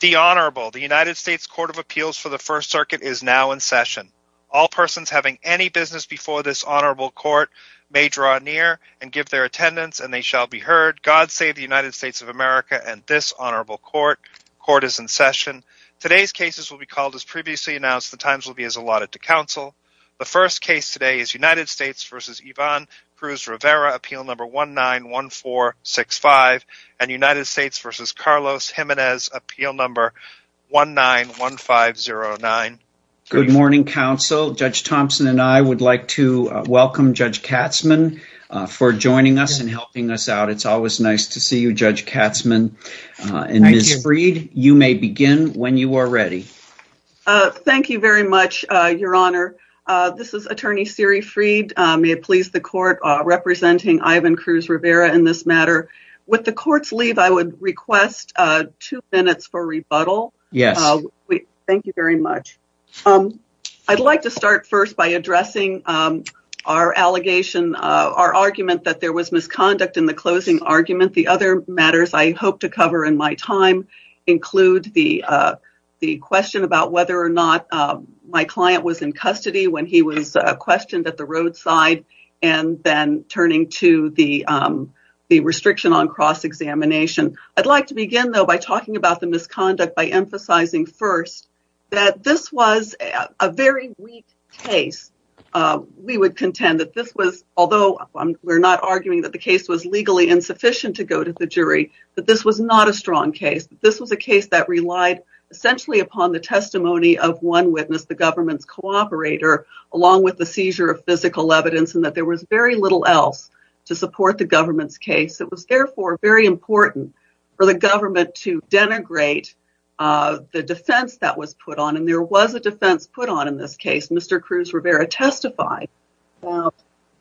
The Honorable, the United States Court of Appeals for the First Circuit is now in session. All persons having any business before this Honorable Court may draw near and give their attendance and they shall be heard. God save the United States of America and this Honorable Court. Court is in session. Today's cases will be called as previously announced. The times will be as allotted to counsel. The first case today is United States v. Ivan Cruz-Rivera, appeal number 191465 and United States v. Carlos Jimenez, appeal number 191509. Good morning, counsel. Judge Thompson and I would like to welcome Judge Katzmann for joining us and helping us out. It's always nice to see you, Judge Katzmann. And Ms. Freed, you may begin when you are ready. Thank you very much, Your Honor. This is Attorney Siri Freed. May it please the Court, representing Ivan Cruz-Rivera in this matter. With the Court's leave, I would request two minutes for rebuttal. Yes. Thank you very much. I'd like to start first by addressing our allegation, our argument that there was misconduct in the closing argument. The other matters I hope to cover in my time include the question about whether or not my client was in turning to the restriction on cross-examination. I'd like to begin, though, by talking about the misconduct by emphasizing first that this was a very weak case. We would contend that this was, although we're not arguing that the case was legally insufficient to go to the jury, that this was not a strong case. This was a case that relied essentially upon the testimony of one witness, the government's cooperator, along with the seizure of physical evidence and that there was very little else to support the government's case. It was therefore very important for the government to denigrate the defense that was put on, and there was a defense put on in this case. Mr. Cruz-Rivera testified about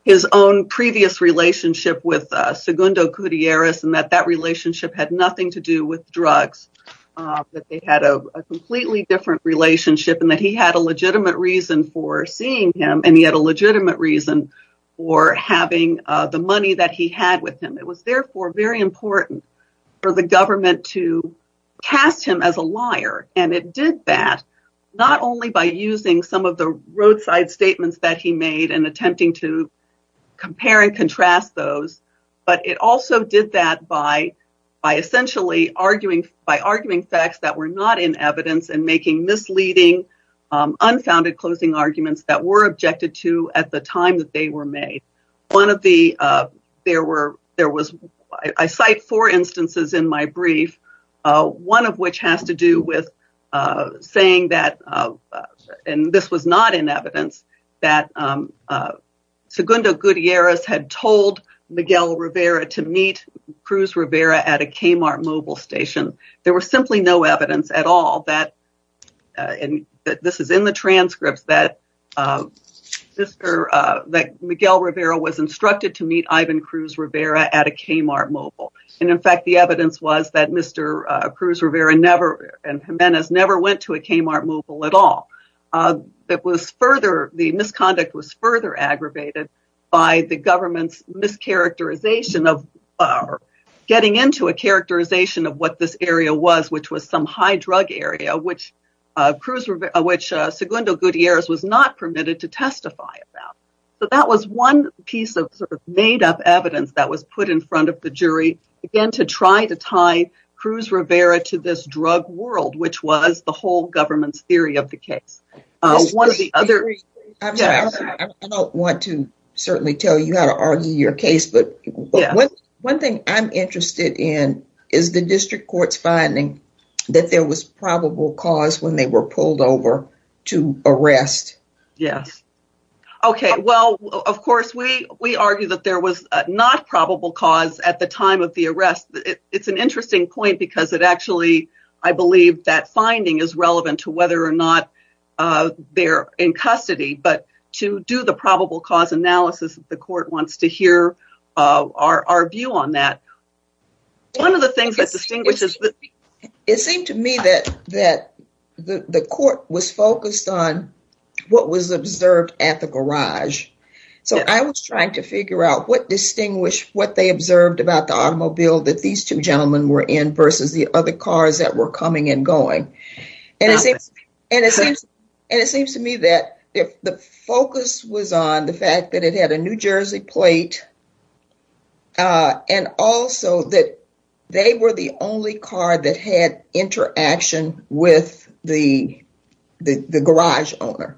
his own previous relationship with Segundo Gutierrez and that that relationship had nothing to do with drugs, that they had a completely different relationship and that he had a legitimate reason for seeing him, and he had a legitimate reason for having the money that he had with him. It was therefore very important for the government to cast him as a liar, and it did that not only by using some of the roadside statements that he made and attempting to compare and contrast those, but it also did that by essentially arguing facts that were not in evidence and making misleading, unfounded closing arguments that were made. I cite four instances in my brief, one of which has to do with saying that, and this was not in evidence, that Segundo Gutierrez had told Miguel Rivera to meet Cruz-Rivera at a Kmart mobile station. There was simply no evidence at all that, and this is in the transcripts, that Miguel Rivera was instructed to meet Ivan Cruz-Rivera at a Kmart mobile, and in fact the evidence was that Mr. Cruz-Rivera and Jimenez never went to a Kmart mobile at all. The misconduct was further aggravated by the government's mischaracterization of getting into a characterization of what this area was, which was some high drug area, which Segundo Gutierrez was not permitted to testify about, but that was one piece of sort of made-up evidence that was put in front of the jury, again to try to tie Cruz-Rivera to this drug world, which was the whole government's theory of the case. One of the other... I don't want to certainly tell you how to argue your case, but one thing I'm interested in is the district court's finding that there was probable cause when they were pulled over to arrest. Yes. Okay, well, of course, we argue that there was not probable cause at the time of the arrest. It's an interesting point because it actually, I believe, that finding is relevant to whether or not they're in custody, but to do the probable cause analysis, the court wants to hear our view on that. One of the things that distinguishes... It seemed to me that the court was focused on what was observed at the garage. So, I was trying to figure out what distinguished, what they observed about the automobile that these two gentlemen were in versus the other cars that were coming and going. And it seems to me that the focus was on the fact that it had a New Jersey plate and also that they were the only car that had interaction with the garage owner.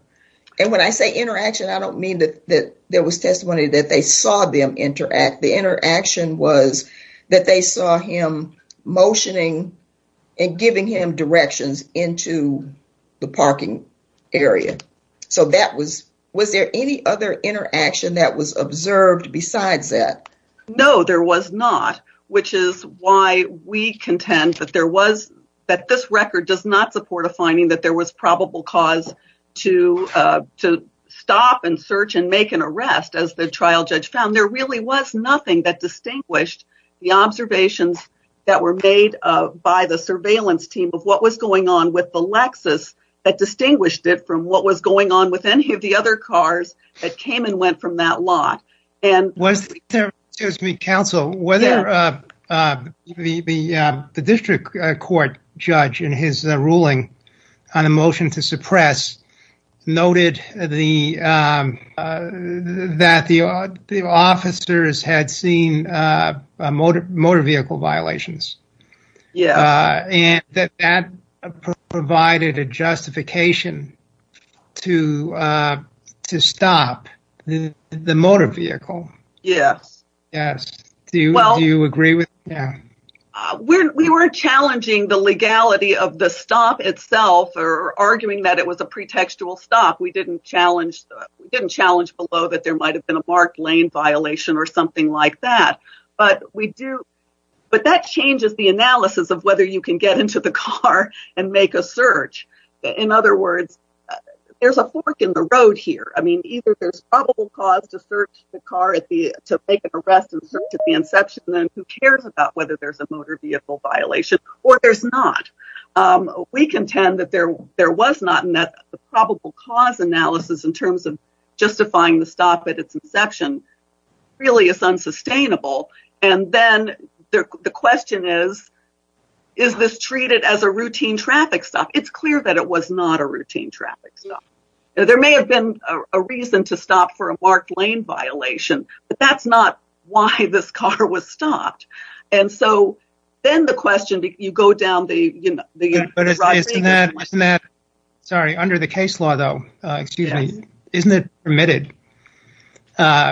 And when I say interaction, I don't mean that there was testimony that they saw them interact. The interaction was that they saw him motioning and giving him directions into the parking area. So, was there any other interaction that was observed besides that? No, there was not, which is why we contend that this record does not support a finding that there was probable cause to stop and search and make an arrest. As the trial judge found, there really was nothing that distinguished the observations that were made by the surveillance team of what was going on with the Lexus that distinguished it from what was going on with any of the other cars that came and went from that lot. Excuse me, counsel, whether the district court judge in his ruling on a motion to suppress noted that the officers had seen motor vehicle violations. Yeah. And that provided a justification to stop the motor vehicle. Yes. Yes. Do you agree with that? We were challenging the legality of the stop itself or arguing that it was a pretextual stop. We didn't challenge below that there might have been a marked lane violation or something like that. But that changes the analysis of whether you can get into the car and make a search. In other words, there's a fork in the road here. I search the car to make an arrest and search at the inception and who cares about whether there's a motor vehicle violation or there's not. We contend that there was not in that the probable cause analysis in terms of justifying the stop at its inception really is unsustainable. And then the question is, is this treated as a routine traffic stop? It's clear that it was not a routine traffic stop. There may have been a reason to stop for a marked lane violation, but that's not why this car was stopped. And so then the question, you go down the, you know, the road. Sorry, under the case law, though, excuse me, isn't it permitted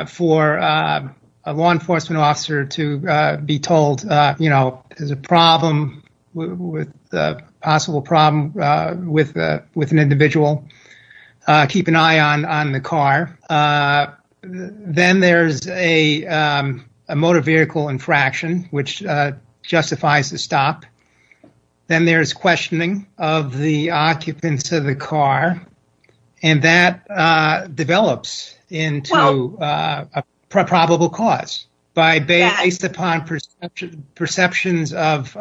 for a law enforcement officer to be told, you know, there's a problem with a possible problem with an individual, keep an eye on the car. Then there's a motor vehicle infraction, which justifies the stop. Then there's questioning of the occupants of the car. And that develops into a probable cause by based upon perceptions of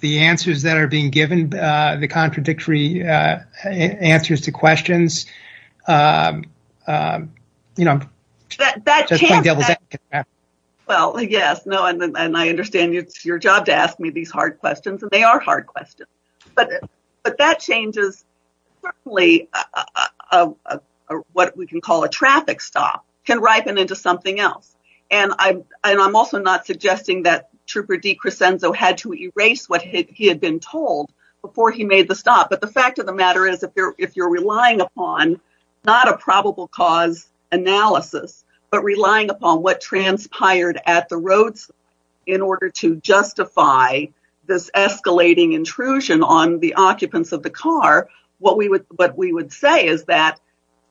the answers that are being given, the contradictory answers to questions. Well, yes, no, and I understand it's your job to ask me these hard questions and they are hard questions, but that changes certainly what we can call a traffic stop can ripen into something else. And I'm also not suggesting that Trooper D. Crescenzo had to erase what he had been told before he made the stop. But the fact of the matter is, if you're relying upon not a probable cause analysis, but relying upon what transpired at the roads in order to justify this escalating intrusion on the occupants of the car, what we would say is that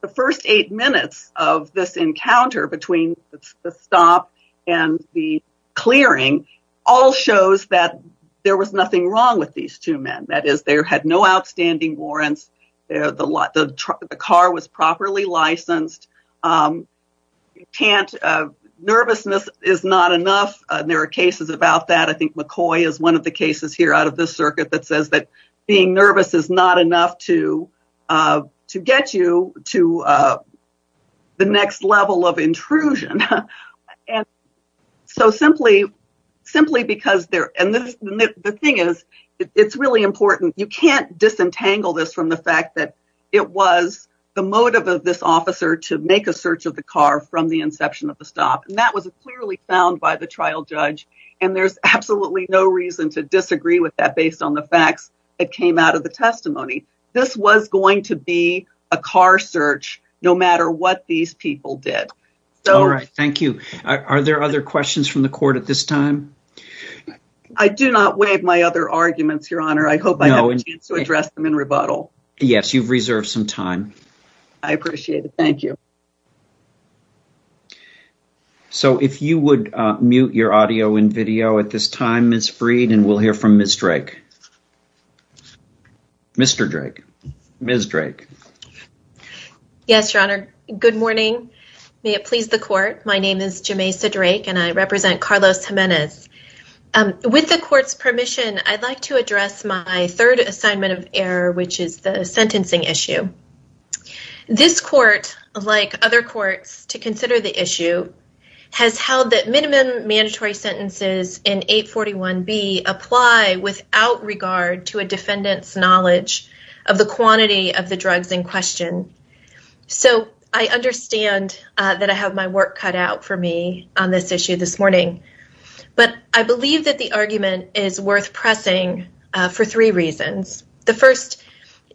the first eight minutes of this encounter between the stop and the clearing all shows that there was nothing wrong with these two men. That is, they had no outstanding warrants. The car was properly licensed. Nervousness is not enough. There are cases about that. I think McCoy is one of the cases here out of the circuit that says that being nervous is not enough to get you to the next level of intrusion. And so simply because they're, and the thing is, it's really important. You can't disentangle this from the fact that it was the motive of this officer to make a search of the car from the inception of the stop. And that was clearly found by the trial judge. And there's absolutely no reason to disagree with that based on the facts that came out of the testimony. This was going to be a car search, no matter what these people did. All right. Thank you. Are there other questions from the court at this time? I do not waive my other arguments, Your Honor. I hope I have a chance to address them in rebuttal. Yes, you've reserved some time. I appreciate it. Thank you. So if you would mute your audio and video at this time, Ms. Freed, and we'll hear from Ms. Drake. Mr. Drake. Ms. Drake. Yes, Your Honor. Good morning. May it please the court. My name is Jamesa Drake and I represent Carlos Jimenez. With the court's permission, I'd like to address my third assignment of error, which is the sentencing issue. This court, like other courts to consider the issue, has held that minimum mandatory sentences in 841B apply without regard to a defendant's knowledge of the quantity of the drugs in question. So I understand that I have my work cut out for me on this issue this morning. But I believe that the argument is worth pressing for three reasons. The first,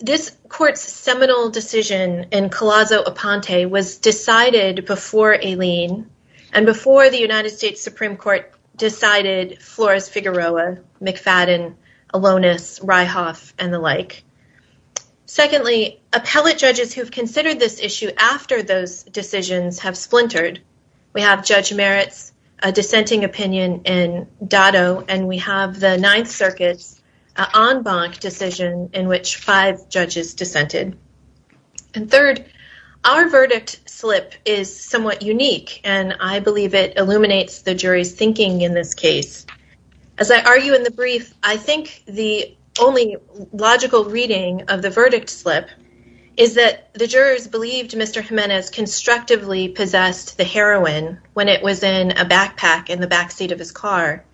this court's seminal decision in Collazo-Aponte was decided before Aileen and before the United States Supreme Court decided Flores-Figueroa, McFadden, Alonis, Reihoff, and the like. Secondly, appellate judges who've considered this issue after those decisions have splintered. We have Judge Meritz, a dissenting opinion in Dado, and we have the Ninth Circuit's decision in which five judges dissented. And third, our verdict slip is somewhat unique and I believe it illuminates the jury's thinking in this case. As I argue in the brief, I think the only logical reading of the verdict slip is that the jurors believed Mr. Jimenez constructively possessed the heroin when it was in a backpack in the backseat of his car,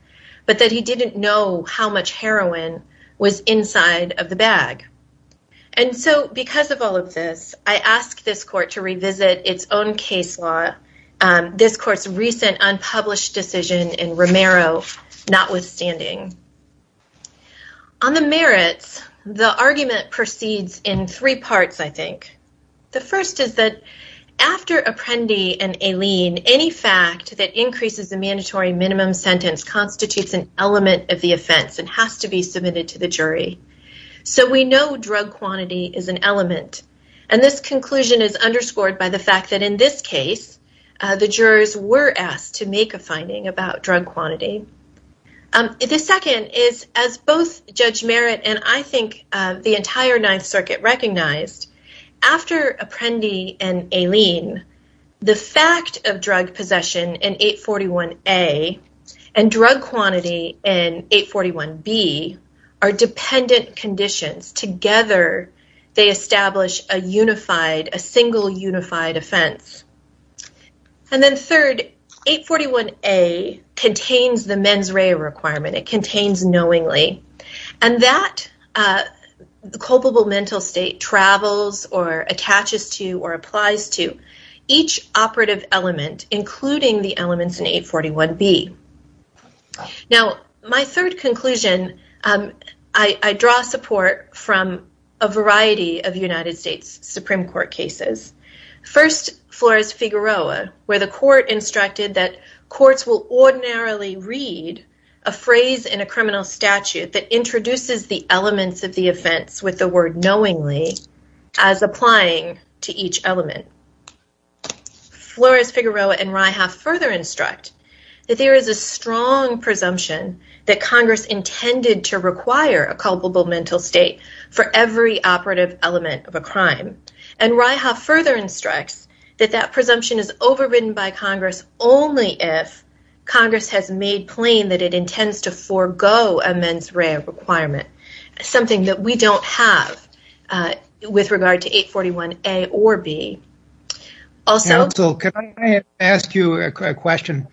but that he didn't know how much heroin was inside of the bag. And so because of all of this, I ask this court to revisit its own case law, this court's recent unpublished decision in Romero notwithstanding. On the Meritz, the argument proceeds in three parts, I think. The first is that after Apprendi and Aileen, any fact that increases the mandatory minimum sentence constitutes an element of the offense and has to be submitted to the jury. So we know drug quantity is an element. And this conclusion is underscored by the fact that in this case, the jurors were asked to make a finding about drug quantity. The second is as both Judge Meritz and I think the entire Ninth Circuit recognized, after Apprendi and Aileen, the fact of drug possession in 841A and drug quantity in 841B are dependent conditions. Together, they establish a unified, a single unified offense. And then third, 841A contains the mens rea requirement, it contains knowingly. And that culpable mental state travels or attaches to or applies to each operative element, including the elements in 841B. Now, my third conclusion, I draw support from a variety of United States Supreme Court cases. First, Flores-Figueroa, where the court instructed that courts will ordinarily read a phrase in a criminal statute that introduces the elements of the offense with the word knowingly as applying to each element. Flores-Figueroa and Reihauf further instruct that there is a strong presumption that Congress intended to require a culpable mental state for every operative element of a crime. And Reihauf further instructs that that presumption is overridden by Congress only if Congress has made plain that it intends to forego a mens rea requirement, something that we don't have with regard to 841A or B. Also- Counsel, can I ask you a question?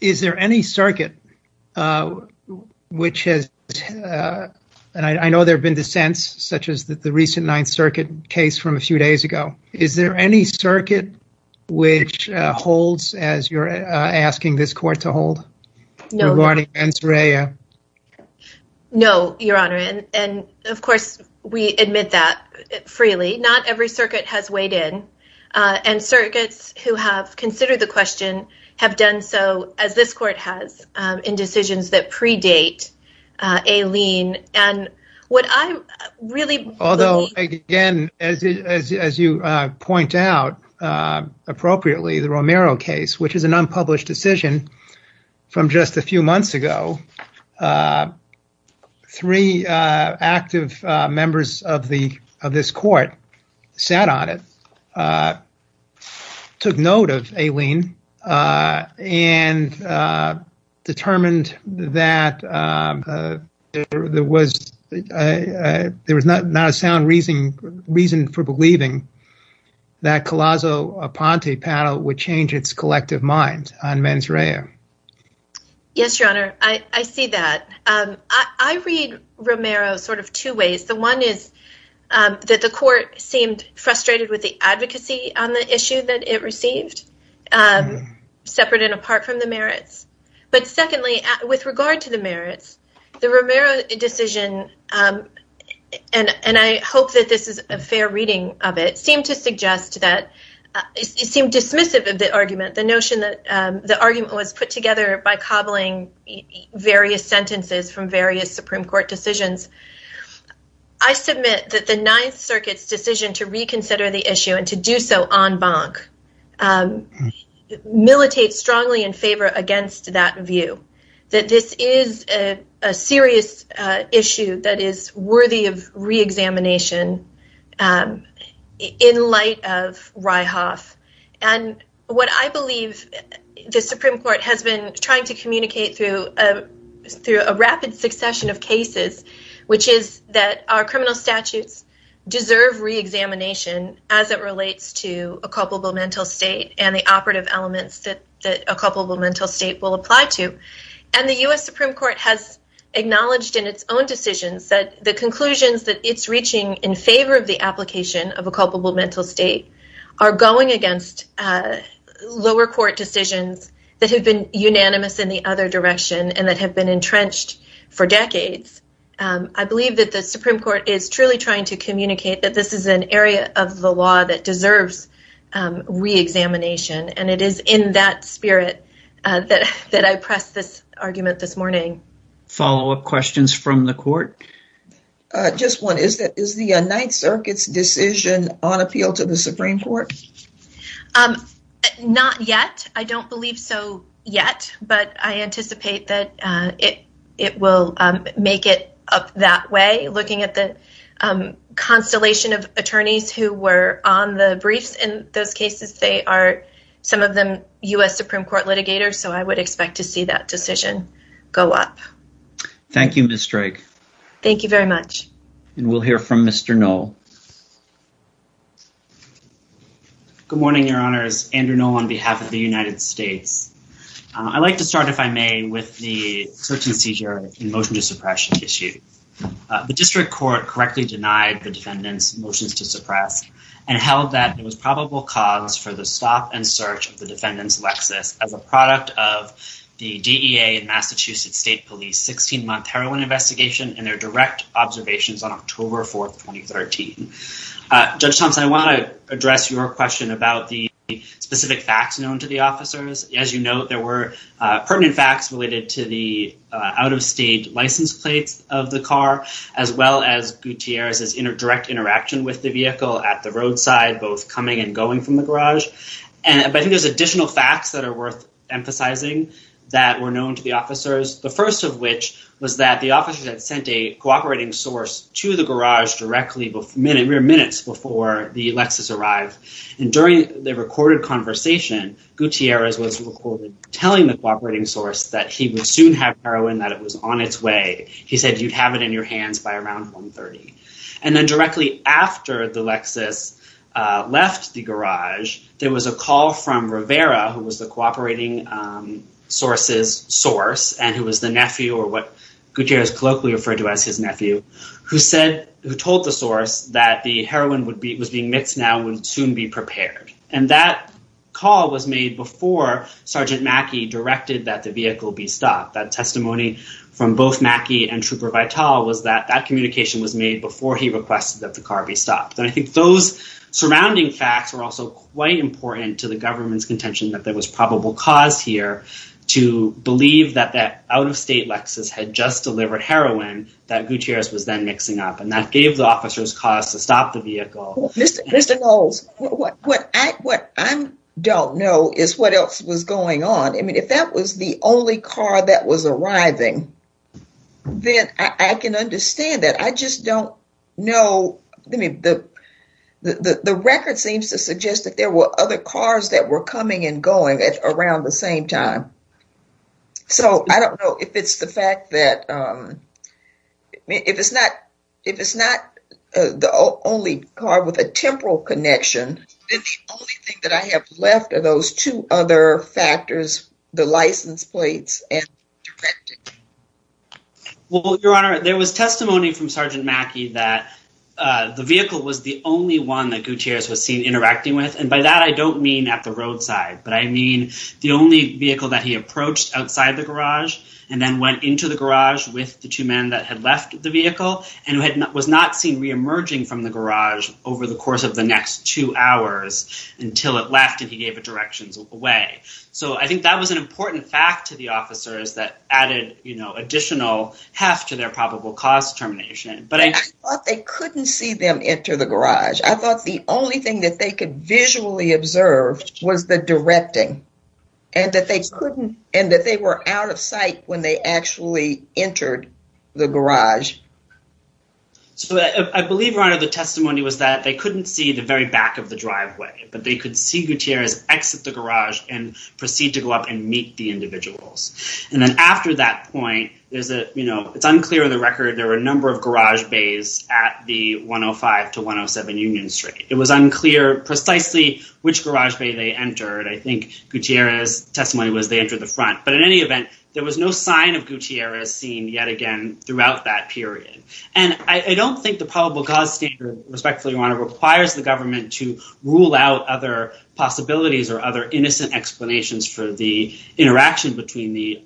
Is there any circuit which has, and I know there have been dissents such as the recent Ninth Circuit case from a few days ago, is there any circuit which holds as you're asking this court to hold regarding mens rea? No, Your Honor. And of course, we admit that freely. Not every circuit has weighed in, and circuits who have considered the question have done so as this court has in decisions that predate a lien. And what I'm really- Although, again, as you point out appropriately, the Romero case, which is an unpublished decision from just a few months ago, three active members of this court sat on it, took note of a lien, and determined that there was not a sound reason for believing that Collazo-Aponte panel would change its collective mind on mens rea. Yes, Your Honor. I see that. I read Romero sort of two ways. The one is that the court seemed frustrated with the advocacy on the issue that it received, separate and apart from the merits. But secondly, with regard to the merits, the Romero decision, and I hope that this is a fair reading of it, seemed to suggest that, it seemed dismissive of the argument, the notion that the argument was put together by cobbling various sentences from various Supreme Court decisions. I submit that the Ninth Circuit's decision to reconsider the issue and to do so en banc militates strongly in favor against that view, that this is a serious issue that is worthy of reexamination in light of Ryhoff. What I believe the Supreme Court has been trying to communicate through a rapid succession of cases, which is that our criminal statutes deserve reexamination as it relates to a culpable mental state and the operative elements that a culpable mental state will apply to. And the US Supreme Court has acknowledged in its own decisions that the conclusions that it's reaching in favor of the application of a culpable mental state are going against lower court decisions that have been unanimous in the other direction, and that have been entrenched for decades. I believe that the Supreme Court is truly trying to communicate that this is an area of the law that deserves reexamination, and it is in that spirit that I pressed this argument this morning. Follow-up questions from the court? Just one. Is the Ninth Circuit's decision on appeal to the Supreme Court? Not yet. I don't believe so yet, but I anticipate that it will make it up that way, looking at the constellation of attorneys who were on the briefs in those cases. They are, some of them, US Supreme Court litigators, so I would expect to see that decision go up. Thank you, Ms. Drake. Thank you very much. And we'll hear from Mr. Knoll. Good morning, Your Honors. Andrew Knoll on behalf of the United States. I'd like to start, if I may, with the search and seizure and motion to suppression issue. The district court correctly denied the defendant's motions to suppress and held that it was probable cause for the stop and search of the defendant's Lexus as a product of the DEA and Massachusetts State Police 16-month heroin investigation and their direct observations on October 4, 2013. Judge Thompson, I want to address your question about the specific facts known to the officers. As you note, there were pertinent facts related to the out-of-state license plates of the car, as well as Gutierrez's direct interaction with the vehicle at the roadside, both coming and going from the garage. But I think there's additional facts that are worth emphasizing that were known to the officers, the first of which was that the officers had sent a cooperating source to the garage directly, mere minutes before the Lexus arrived. And during the recorded conversation, Gutierrez was recorded telling the cooperating source that he would he said, you'd have it in your hands by around 1.30. And then directly after the Lexus left the garage, there was a call from Rivera, who was the cooperating source's source, and who was the nephew or what Gutierrez colloquially referred to as his nephew, who told the source that the heroin was being mixed now and would soon be prepared. And that call was made before Sergeant Mackie directed that the vehicle be stopped. That testimony from both Mackie and Trooper Vitale was that that communication was made before he requested that the car be stopped. And I think those surrounding facts were also quite important to the government's contention that there was probable cause here to believe that that out-of-state Lexus had just delivered heroin, that Gutierrez was then mixing up. And that gave the officers cause to stop the vehicle. Mr. Knowles, what I don't know is what else was going on. I mean, if that was the only car that was arriving, then I can understand that. I just don't know. I mean, the record seems to suggest that there were other cars that were coming and going at around the same time. So I don't know if it's the fact that... If it's not the only car with a temporal connection, then the only thing that I have left are those two other factors, the license plates and directing. Well, Your Honor, there was testimony from Sergeant Mackie that the vehicle was the only one that Gutierrez was seen interacting with. And by that, I don't mean at the roadside, but I mean the only vehicle that he approached outside the garage and then went into the garage with the two men that had left the vehicle and was not seen reemerging from the garage over the course of the next two hours until it left and he gave it directions away. So I think that was an important fact to the officers that added additional heft to their probable cause determination. But I thought they couldn't see them enter the garage. I thought the only thing that they could visually observe was the directing and that they were out of sight when they actually entered the garage. So I believe, Your Honor, the testimony was that they couldn't see the very back of the driveway, but they could see Gutierrez exit the garage and proceed to go up and meet the individuals. And then after that point, it's unclear on the record, there were a number of which garage bay they entered. I think Gutierrez's testimony was they entered the front, but in any event, there was no sign of Gutierrez seen yet again throughout that period. And I don't think the probable cause standard, respectfully, Your Honor, requires the government to rule out other possibilities or other innocent explanations for the interaction between the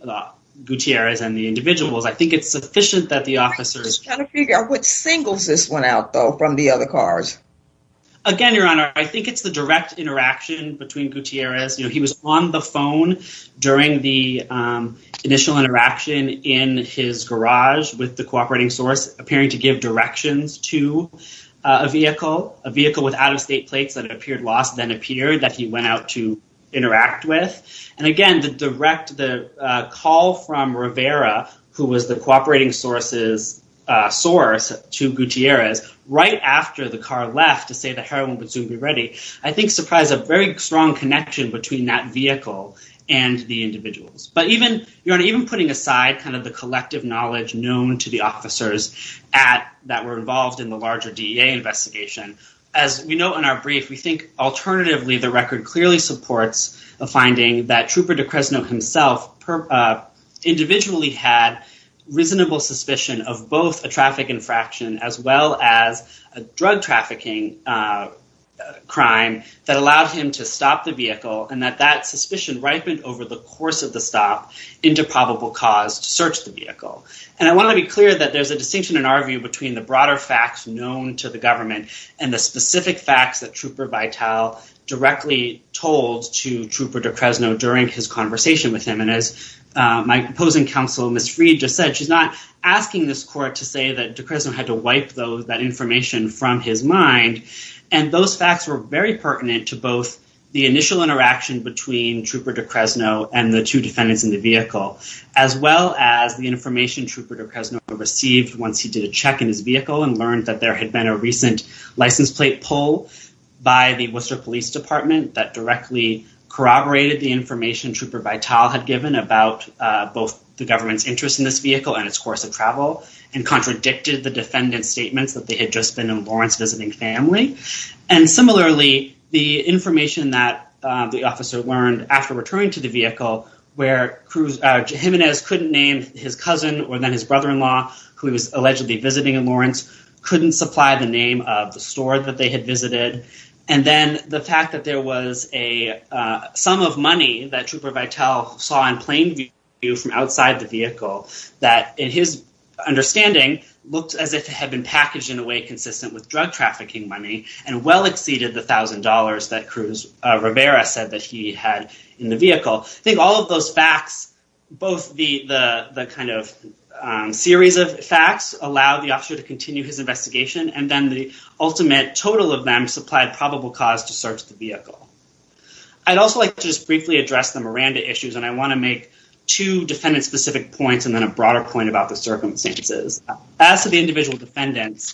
Gutierrez and the individuals. I think it's sufficient that the officers... I'm just trying to figure out which singles this one out, though, from the other cars. Again, Your Honor, I think it's the direct interaction between Gutierrez. He was on the phone during the initial interaction in his garage with the cooperating source, appearing to give directions to a vehicle, a vehicle with out-of-state plates that had appeared lost, then appeared, that he went out to interact with. And again, the direct call from Rivera, who was the cooperating source's source to Gutierrez, right after the car left to say the heroin would soon be ready, I think surprised a very strong connection between that vehicle and the individuals. But even, Your Honor, even putting aside the collective knowledge known to the officers that were involved in the larger DEA investigation, as we know in our brief, we think alternatively the record clearly supports the finding that Trooper DeCresno himself individually had reasonable suspicion of both a traffic infraction as well as a drug trafficking crime that allowed him to stop the vehicle, and that that suspicion ripened over the course of the stop into probable cause to search the vehicle. And I want to be clear that there's a distinction in our view between the broader facts known to the government and the specific facts that Trooper Vital directly told to Trooper DeCresno during his conversation with him. And as my opposing counsel, Ms. Freed, just said, she's not asking this court to say that DeCresno had to wipe that information from his mind. And those facts were very pertinent to both the initial interaction between Trooper DeCresno and the two defendants in the vehicle, as well as the information Trooper DeCresno received once he did a check in his vehicle and learned that there had been a recent license plate pull by the Worcester Police Department that directly corroborated the information Trooper Vital had given about both the government's interest in this vehicle and its course of travel, and contradicted the defendant's statements that they had just been in Lawrence visiting family. And similarly, the information that the officer learned after returning to the vehicle, where Jimenez couldn't name his cousin or then his brother-in-law, who he was allegedly visiting in Lawrence, couldn't supply the name of the store that they had visited. And then the fact that there was a sum of money that Trooper Vital saw in plain view from outside the vehicle, that in his understanding, looked as if it had been packaged in a way consistent with drug trafficking money, and well exceeded the $1,000 that Cruz Rivera said that he had in the vehicle. I think all of those facts, both the kind of series of facts, allowed the officer to continue his investigation, and then the ultimate total of them supplied probable cause to search the vehicle. I'd also like to just briefly address the Miranda issues, and I want to make two defendant-specific points and then a broader point about the circumstances. As to the individual defendants,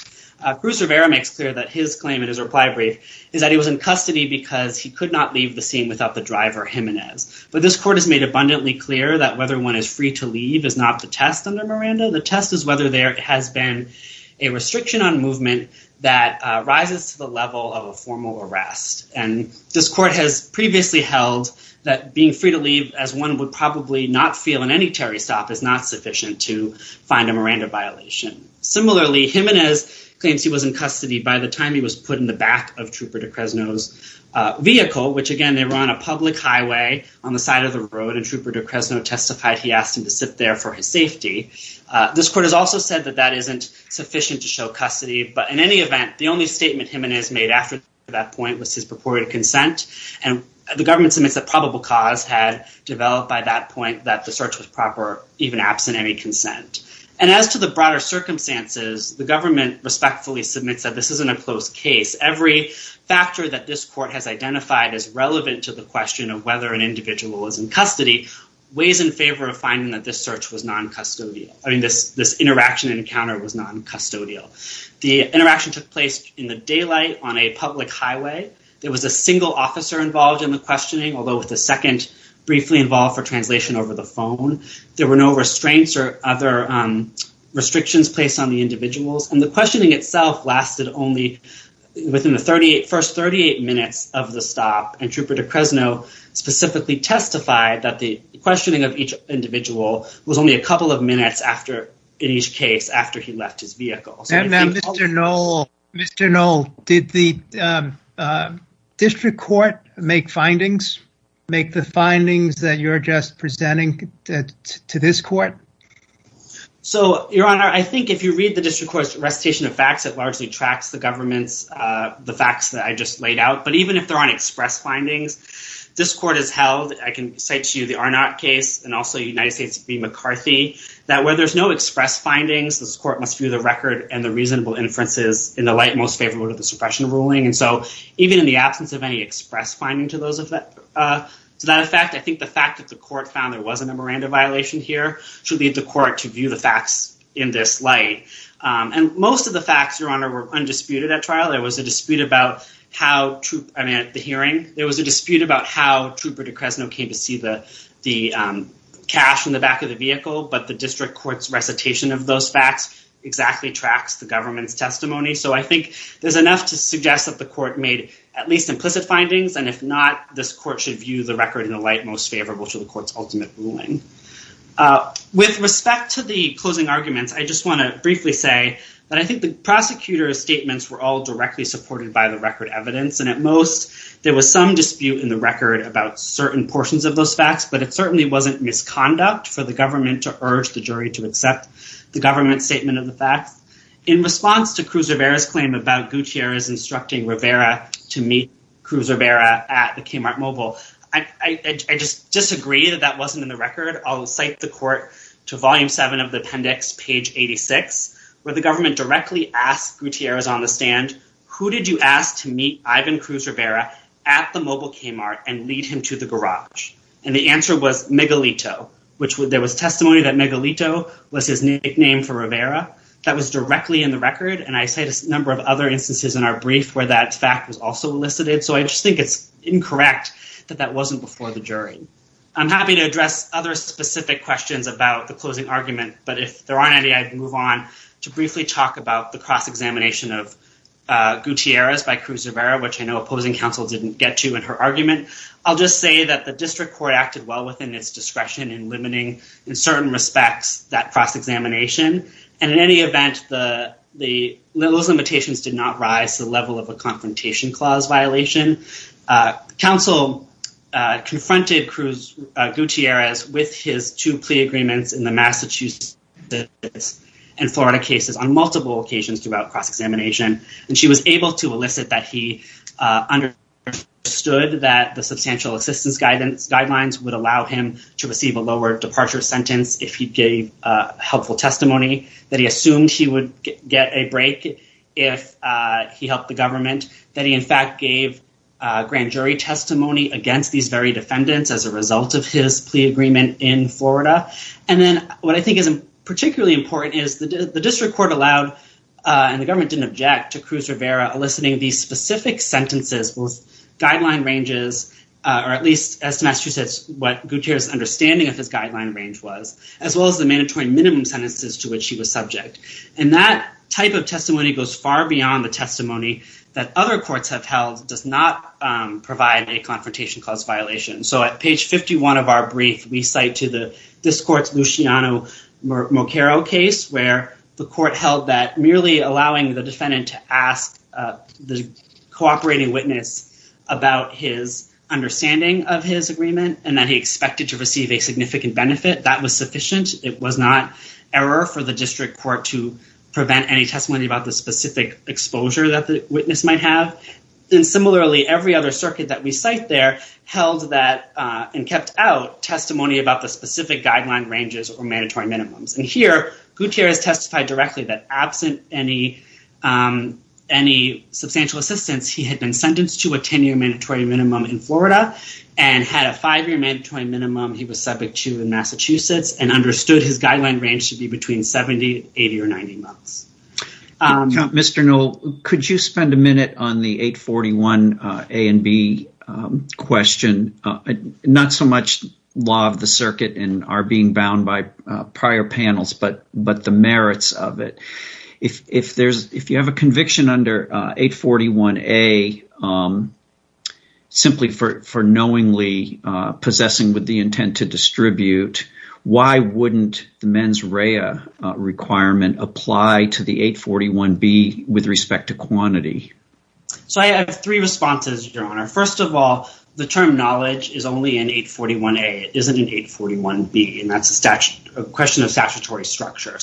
Cruz Rivera makes clear that his claim in his reply brief is that he was in custody because he could not leave the scene without the driver, Jimenez. But this court has made abundantly clear that whether one is free to leave is not the test under Miranda. The test is whether there has been a restriction on movement that rises to the level of a formal arrest. And this court has previously held that being free to leave, as one would probably not feel in any Terry stop, is not sufficient to find a Miranda violation. Similarly, Jimenez claims he was in custody by the time he was put in the back of Trooper DeCresno's vehicle, which again, they were on a public highway on the side of the road, and Trooper DeCresno testified he asked him to sit there for his safety. This court has also said that that isn't sufficient to show custody, but in any event, the only statement Jimenez made after that point was his purported consent, and the government submits that probable cause had developed by that point that the search was proper, even absent any consent. And as to the broader circumstances, the government respectfully submits that this court has identified as relevant to the question of whether an individual is in custody, ways in favor of finding that this interaction and encounter was non-custodial. The interaction took place in the daylight on a public highway. There was a single officer involved in the questioning, although with a second briefly involved for translation over the phone. There were no restraints or other restrictions placed on the individuals, and the questioning itself lasted only within the first 38 minutes of the stop, and Trooper DeCresno specifically testified that the questioning of each individual was only a couple of minutes in each case after he left his vehicle. And then Mr. Knoll, did the district court make findings, make the findings that you're just presenting to this court? So, Your Honor, I think if you read the district court's recitation of facts, it largely tracks the government's, the facts that I just laid out. But even if there aren't express findings, this court has held, I can cite to you the Arnott case and also United States v. McCarthy, that where there's no express findings, this court must view the record and the reasonable inferences in the light most favorable to the suppression ruling. And so, even in the absence of any express finding to that effect, I think the fact that the court to view the facts in this light. And most of the facts, Your Honor, were undisputed at trial. There was a dispute about how Trooper DeCresno came to see the cash in the back of the vehicle, but the district court's recitation of those facts exactly tracks the government's testimony. So I think there's enough to suggest that the court made at least implicit findings. And if not, this court should view the record in the light most favorable to the court's ultimate ruling. With respect to the closing arguments, I just want to briefly say that I think the prosecutor's statements were all directly supported by the record evidence. And at most, there was some dispute in the record about certain portions of those facts, but it certainly wasn't misconduct for the government to urge the jury to accept the government's statement of the facts. In response to Cruz Rivera's claim about Gutierrez instructing Rivera to meet Cruz Rivera at the Kmart mobile, I just disagree that that wasn't in the record. I'll cite the court to Volume 7 of the appendix, page 86, where the government directly asked Gutierrez on the stand, who did you ask to meet Ivan Cruz Rivera at the mobile Kmart and lead him to the garage? And the answer was Megalito, which there was testimony that Megalito was his nickname for Rivera. That was directly in the record. And I cite a number of other instances in our brief where that fact was also elicited. So I just think it's incorrect that that wasn't before the jury. I'm happy to address other specific questions about the closing argument, but if there aren't any, I'd move on to briefly talk about the cross-examination of Gutierrez by Cruz Rivera, which I know opposing counsel didn't get to in her argument. I'll just say that the district court acted well within its discretion in limiting, in certain respects, that cross-examination. And in any event, those limitations did not rise to the level of a confrontation clause violation. Counsel confronted Gutierrez with his two plea agreements in the Massachusetts and Florida cases on multiple occasions throughout cross-examination. And she was able to elicit that he understood that the substantial assistance guidelines would allow him to receive a lower departure sentence if he gave a helpful testimony, that he assumed he would get a break if he helped the government, that he in fact gave a grand jury testimony against these very defendants as a result of his plea agreement in Florida. And then what I think is particularly important is the district court allowed, and the government didn't object to Cruz Rivera eliciting these specific sentences with guideline ranges, or at least as to Massachusetts, what Gutierrez's understanding of his guideline range was, as well as the mandatory minimum sentences to which he was subject. And that type of testimony goes far beyond the testimony that other courts have held does not provide a confrontation clause violation. So at page 51 of our brief, we cite to the district court's Luciano Moqueiro case where the court held that merely allowing the defendant to ask the cooperating witness about his understanding of his agreement and that he expected to receive a significant benefit, that was sufficient. It was not error for the district court to prevent any testimony about the specific exposure that the witness might have. And similarly, every other circuit that we cite there held that and kept out testimony about the specific guideline ranges or mandatory minimums. And here, Gutierrez testified directly that absent any substantial assistance, he had been sentenced to a 10-year mandatory minimum in Florida and had a five-year mandatory minimum he was subject to in Massachusetts and understood his guideline range to be between 70, 80, or 90 months. Mr. Noll, could you spend a minute on the 841 A and B question? Not so much law of the circuit and our being bound by prior panels, but the merits of it. If you have a conviction under 841 A simply for knowingly possessing with the intent to distribute, why wouldn't the mens rea requirement apply to the 841 B with respect to quantity? So I have three responses, Your Honor. First of all, the term So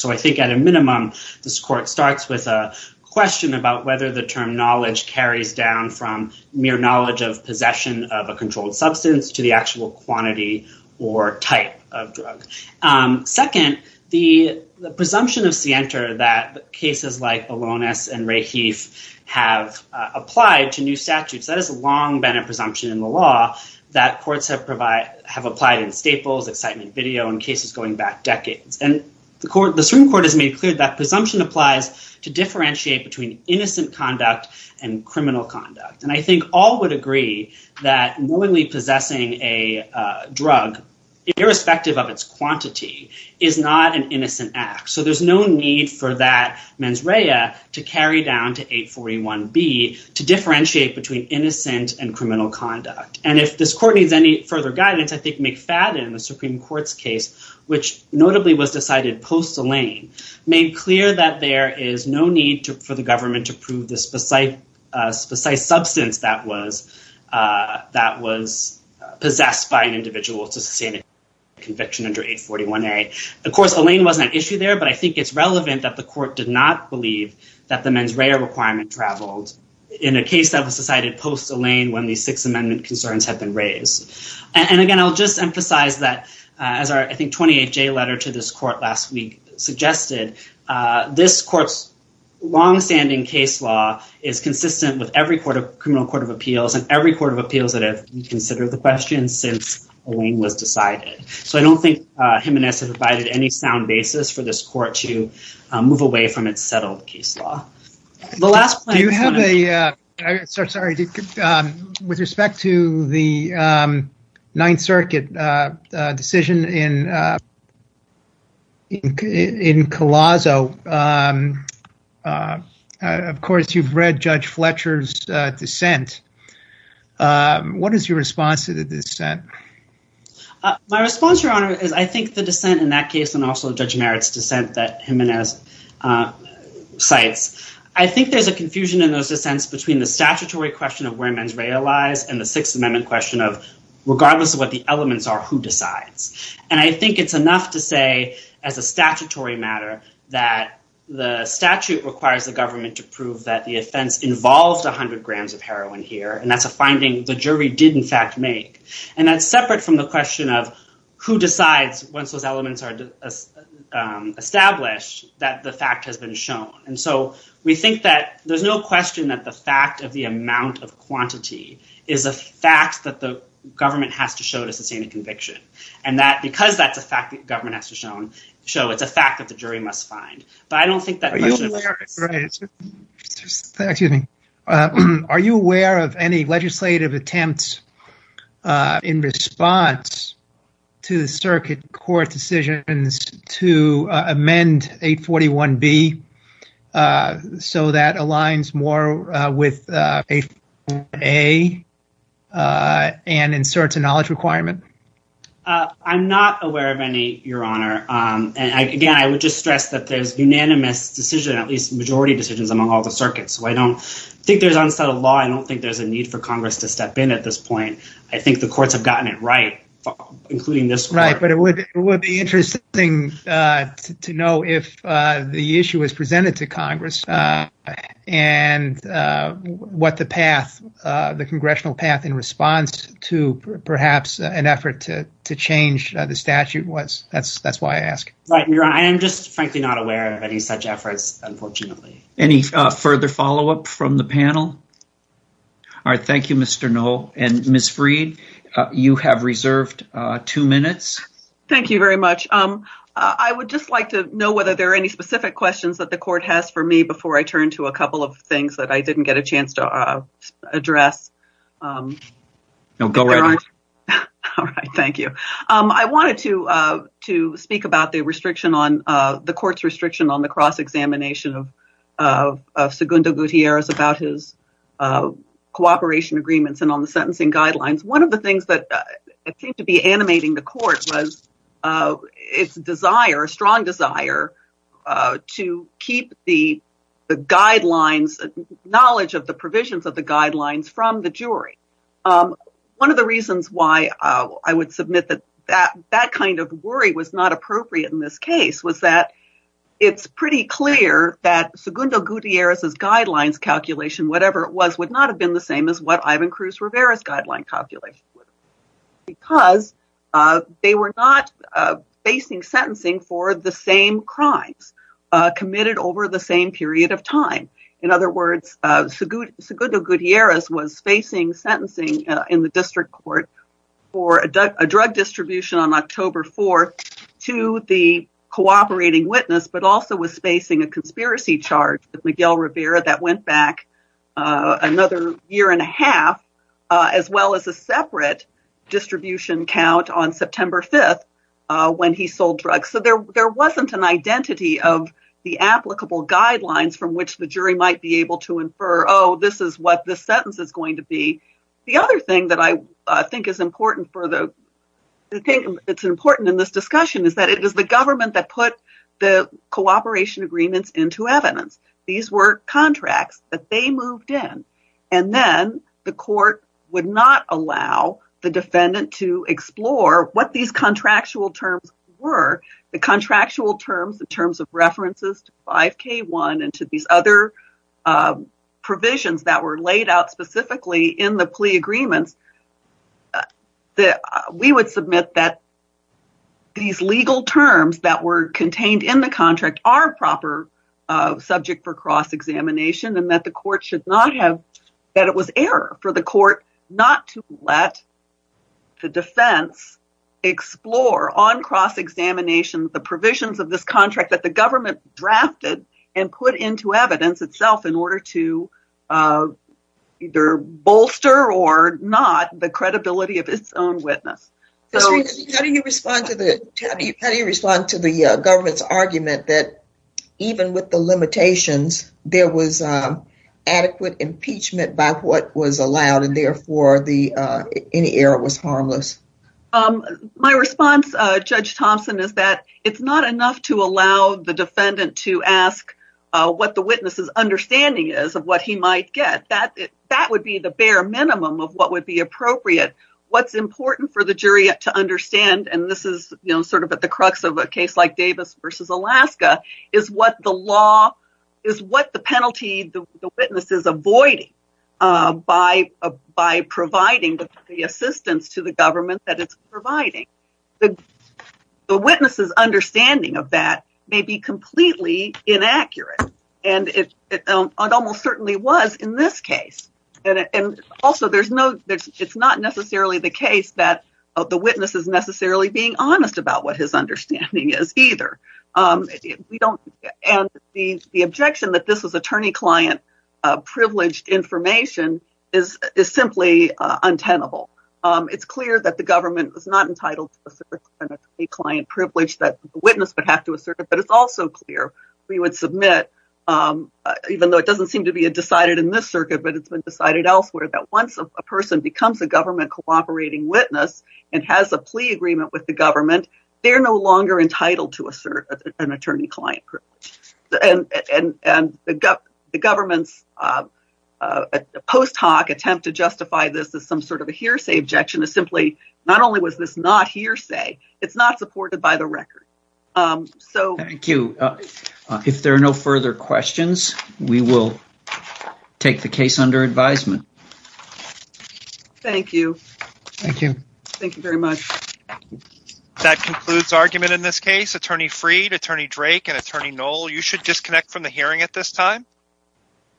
I think at a minimum, this court starts with a question about whether the term knowledge carries down from mere knowledge of possession of a controlled substance to the actual quantity or type of drug. Second, the presumption of scienter that cases like Alonis and Rahif have applied to new statutes, that has long been a presumption in the law that courts have applied in staples, excitement video, and cases going back decades. And the Supreme Court has made clear that presumption applies to differentiate between innocent conduct and criminal conduct. And I think all would agree that knowingly possessing a drug irrespective of its quantity is not an innocent act. So there's no need for that mens rea to carry down to 841 B to differentiate between innocent and criminal conduct. And if this court needs any further guidance, I think McFadden, the Supreme Court's case, which notably was decided post-Elaine, made clear that there is no need for the government to prove this precise substance that was possessed by an individual to sustain a conviction under 841 A. Of course, Elaine wasn't an issue there, but I think it's relevant that the court did not believe that the mens rea requirement traveled in a case that was decided post-Elaine when these Sixth Amendment concerns have been raised. And again, I'll just emphasize that as our, I think, 28-J letter to this court last week suggested, this court's longstanding case law is consistent with every criminal court of appeals and every court of appeals that have reconsidered the question since Elaine was decided. So I don't think Jimenez has provided any sound basis for this court to move away from its settled case law. With respect to the Ninth Circuit decision in Colosso, of course, you've read Judge Fletcher's dissent. What is your response to the dissent? My response, Your Honor, is I think the dissent in that case and also Judge Merritt's dissent that Jimenez cites, I think there's a confusion in those dissents between the statutory question of where mens rea lies and the Sixth Amendment question of regardless of what the elements are, who decides? And I think it's enough to say as a statutory matter that the statute requires the government to prove that the offense involved 100 grams of heroin here. And that's a finding the jury did in fact make. And that's separate from the question of who decides once those that the fact has been shown. And so we think that there's no question that the fact of the amount of quantity is a fact that the government has to show to sustain a conviction. And that because that's a fact that government has to show, it's a fact that the jury must find. Are you aware of any legislative attempts in response to the circuit court decisions to amend 841B so that aligns more with 841A and inserts a knowledge requirement? I'm not aware of any, Your Honor. And again, I would just stress that there's unanimous decision, at least majority decisions among all the circuits. So I don't think there's unsettled law. I don't think there's a need for Congress to step in at this point. I think the courts have thing to know if the issue is presented to Congress and what the path, the congressional path in response to perhaps an effort to change the statute was. That's why I ask. Right, Your Honor. I am just frankly not aware of any such efforts, unfortunately. Any further follow up from the panel? All right. Thank you, Mr. Noll. And Ms. Freed, you have reserved two minutes. Thank you very much. I would just like to know whether there are any specific questions that the court has for me before I turn to a couple of things that I didn't get a chance to address. All right. Thank you. I wanted to speak about the restriction on the court's restriction on the cross-examination of Segundo Gutierrez about his cooperation agreements and on the sentencing guidelines. One of the things that seemed to be animating the court was its desire, a strong desire to keep the guidelines, knowledge of the provisions of the guidelines from the jury. One of the reasons why I would submit that that kind of worry was not appropriate in this case was that it's pretty clear that Segundo Gutierrez's guidelines calculation, whatever it was, would not have been the same as what Ivan Cruz Rivera's guideline calculation was because they were not facing sentencing for the same crimes committed over the same period of time. In other words, Segundo Gutierrez was facing sentencing in the district court for a drug distribution on October 4th to the cooperating witness, but also was facing a conspiracy charge with Miguel Rivera that went back another year and a half, as well as a separate distribution count on September 5th when he sold drugs. So there wasn't an identity of the applicable guidelines from which the jury might be able to infer, oh, this is what the sentence is going to be. The other thing that I think is important in this discussion is that it was the government that put the contracts that they moved in, and then the court would not allow the defendant to explore what these contractual terms were. The contractual terms, the terms of references to 5k1 and to these other provisions that were laid out specifically in the plea agreements, that we would submit that these legal terms that were contained in the contract are proper subject for cross-examination, and that it was error for the court not to let the defense explore on cross-examination the provisions of this contract that the government drafted and put into evidence itself in order to either bolster or not the credibility of its own witness. How do you respond to the government's argument that even with the limitations, there was adequate impeachment by what was allowed and therefore any error was harmless? My response, Judge Thompson, is that it's not enough to allow the defendant to ask what the witness's understanding is of what he might get. That would be the bare minimum of what would be appropriate. What's important for the jury to is what the law, is what the penalty the witness is avoiding by providing the assistance to the government that it's providing. The witness's understanding of that may be completely inaccurate, and it almost certainly was in this case. Also, it's not necessarily the case that the witness is necessarily being honest about what his understanding is either. The objection that this was attorney-client-privileged information is simply untenable. It's clear that the government was not entitled to a certain attorney-client-privilege that the witness would have to assert, but it's also clear we would submit, even though it doesn't seem to be decided in this circuit, but it's been decided elsewhere, that once a person becomes a plea agreement with the government, they're no longer entitled to assert an attorney-client privilege. The government's post hoc attempt to justify this as some sort of a hearsay objection is simply, not only was this not hearsay, it's not supported by the record. If there are no further questions, we will take the case under advisement. Thank you. Thank you. Thank you very much. That concludes argument in this case. Attorney Freed, Attorney Drake, and Attorney Knoll, you should disconnect from the hearing at this time.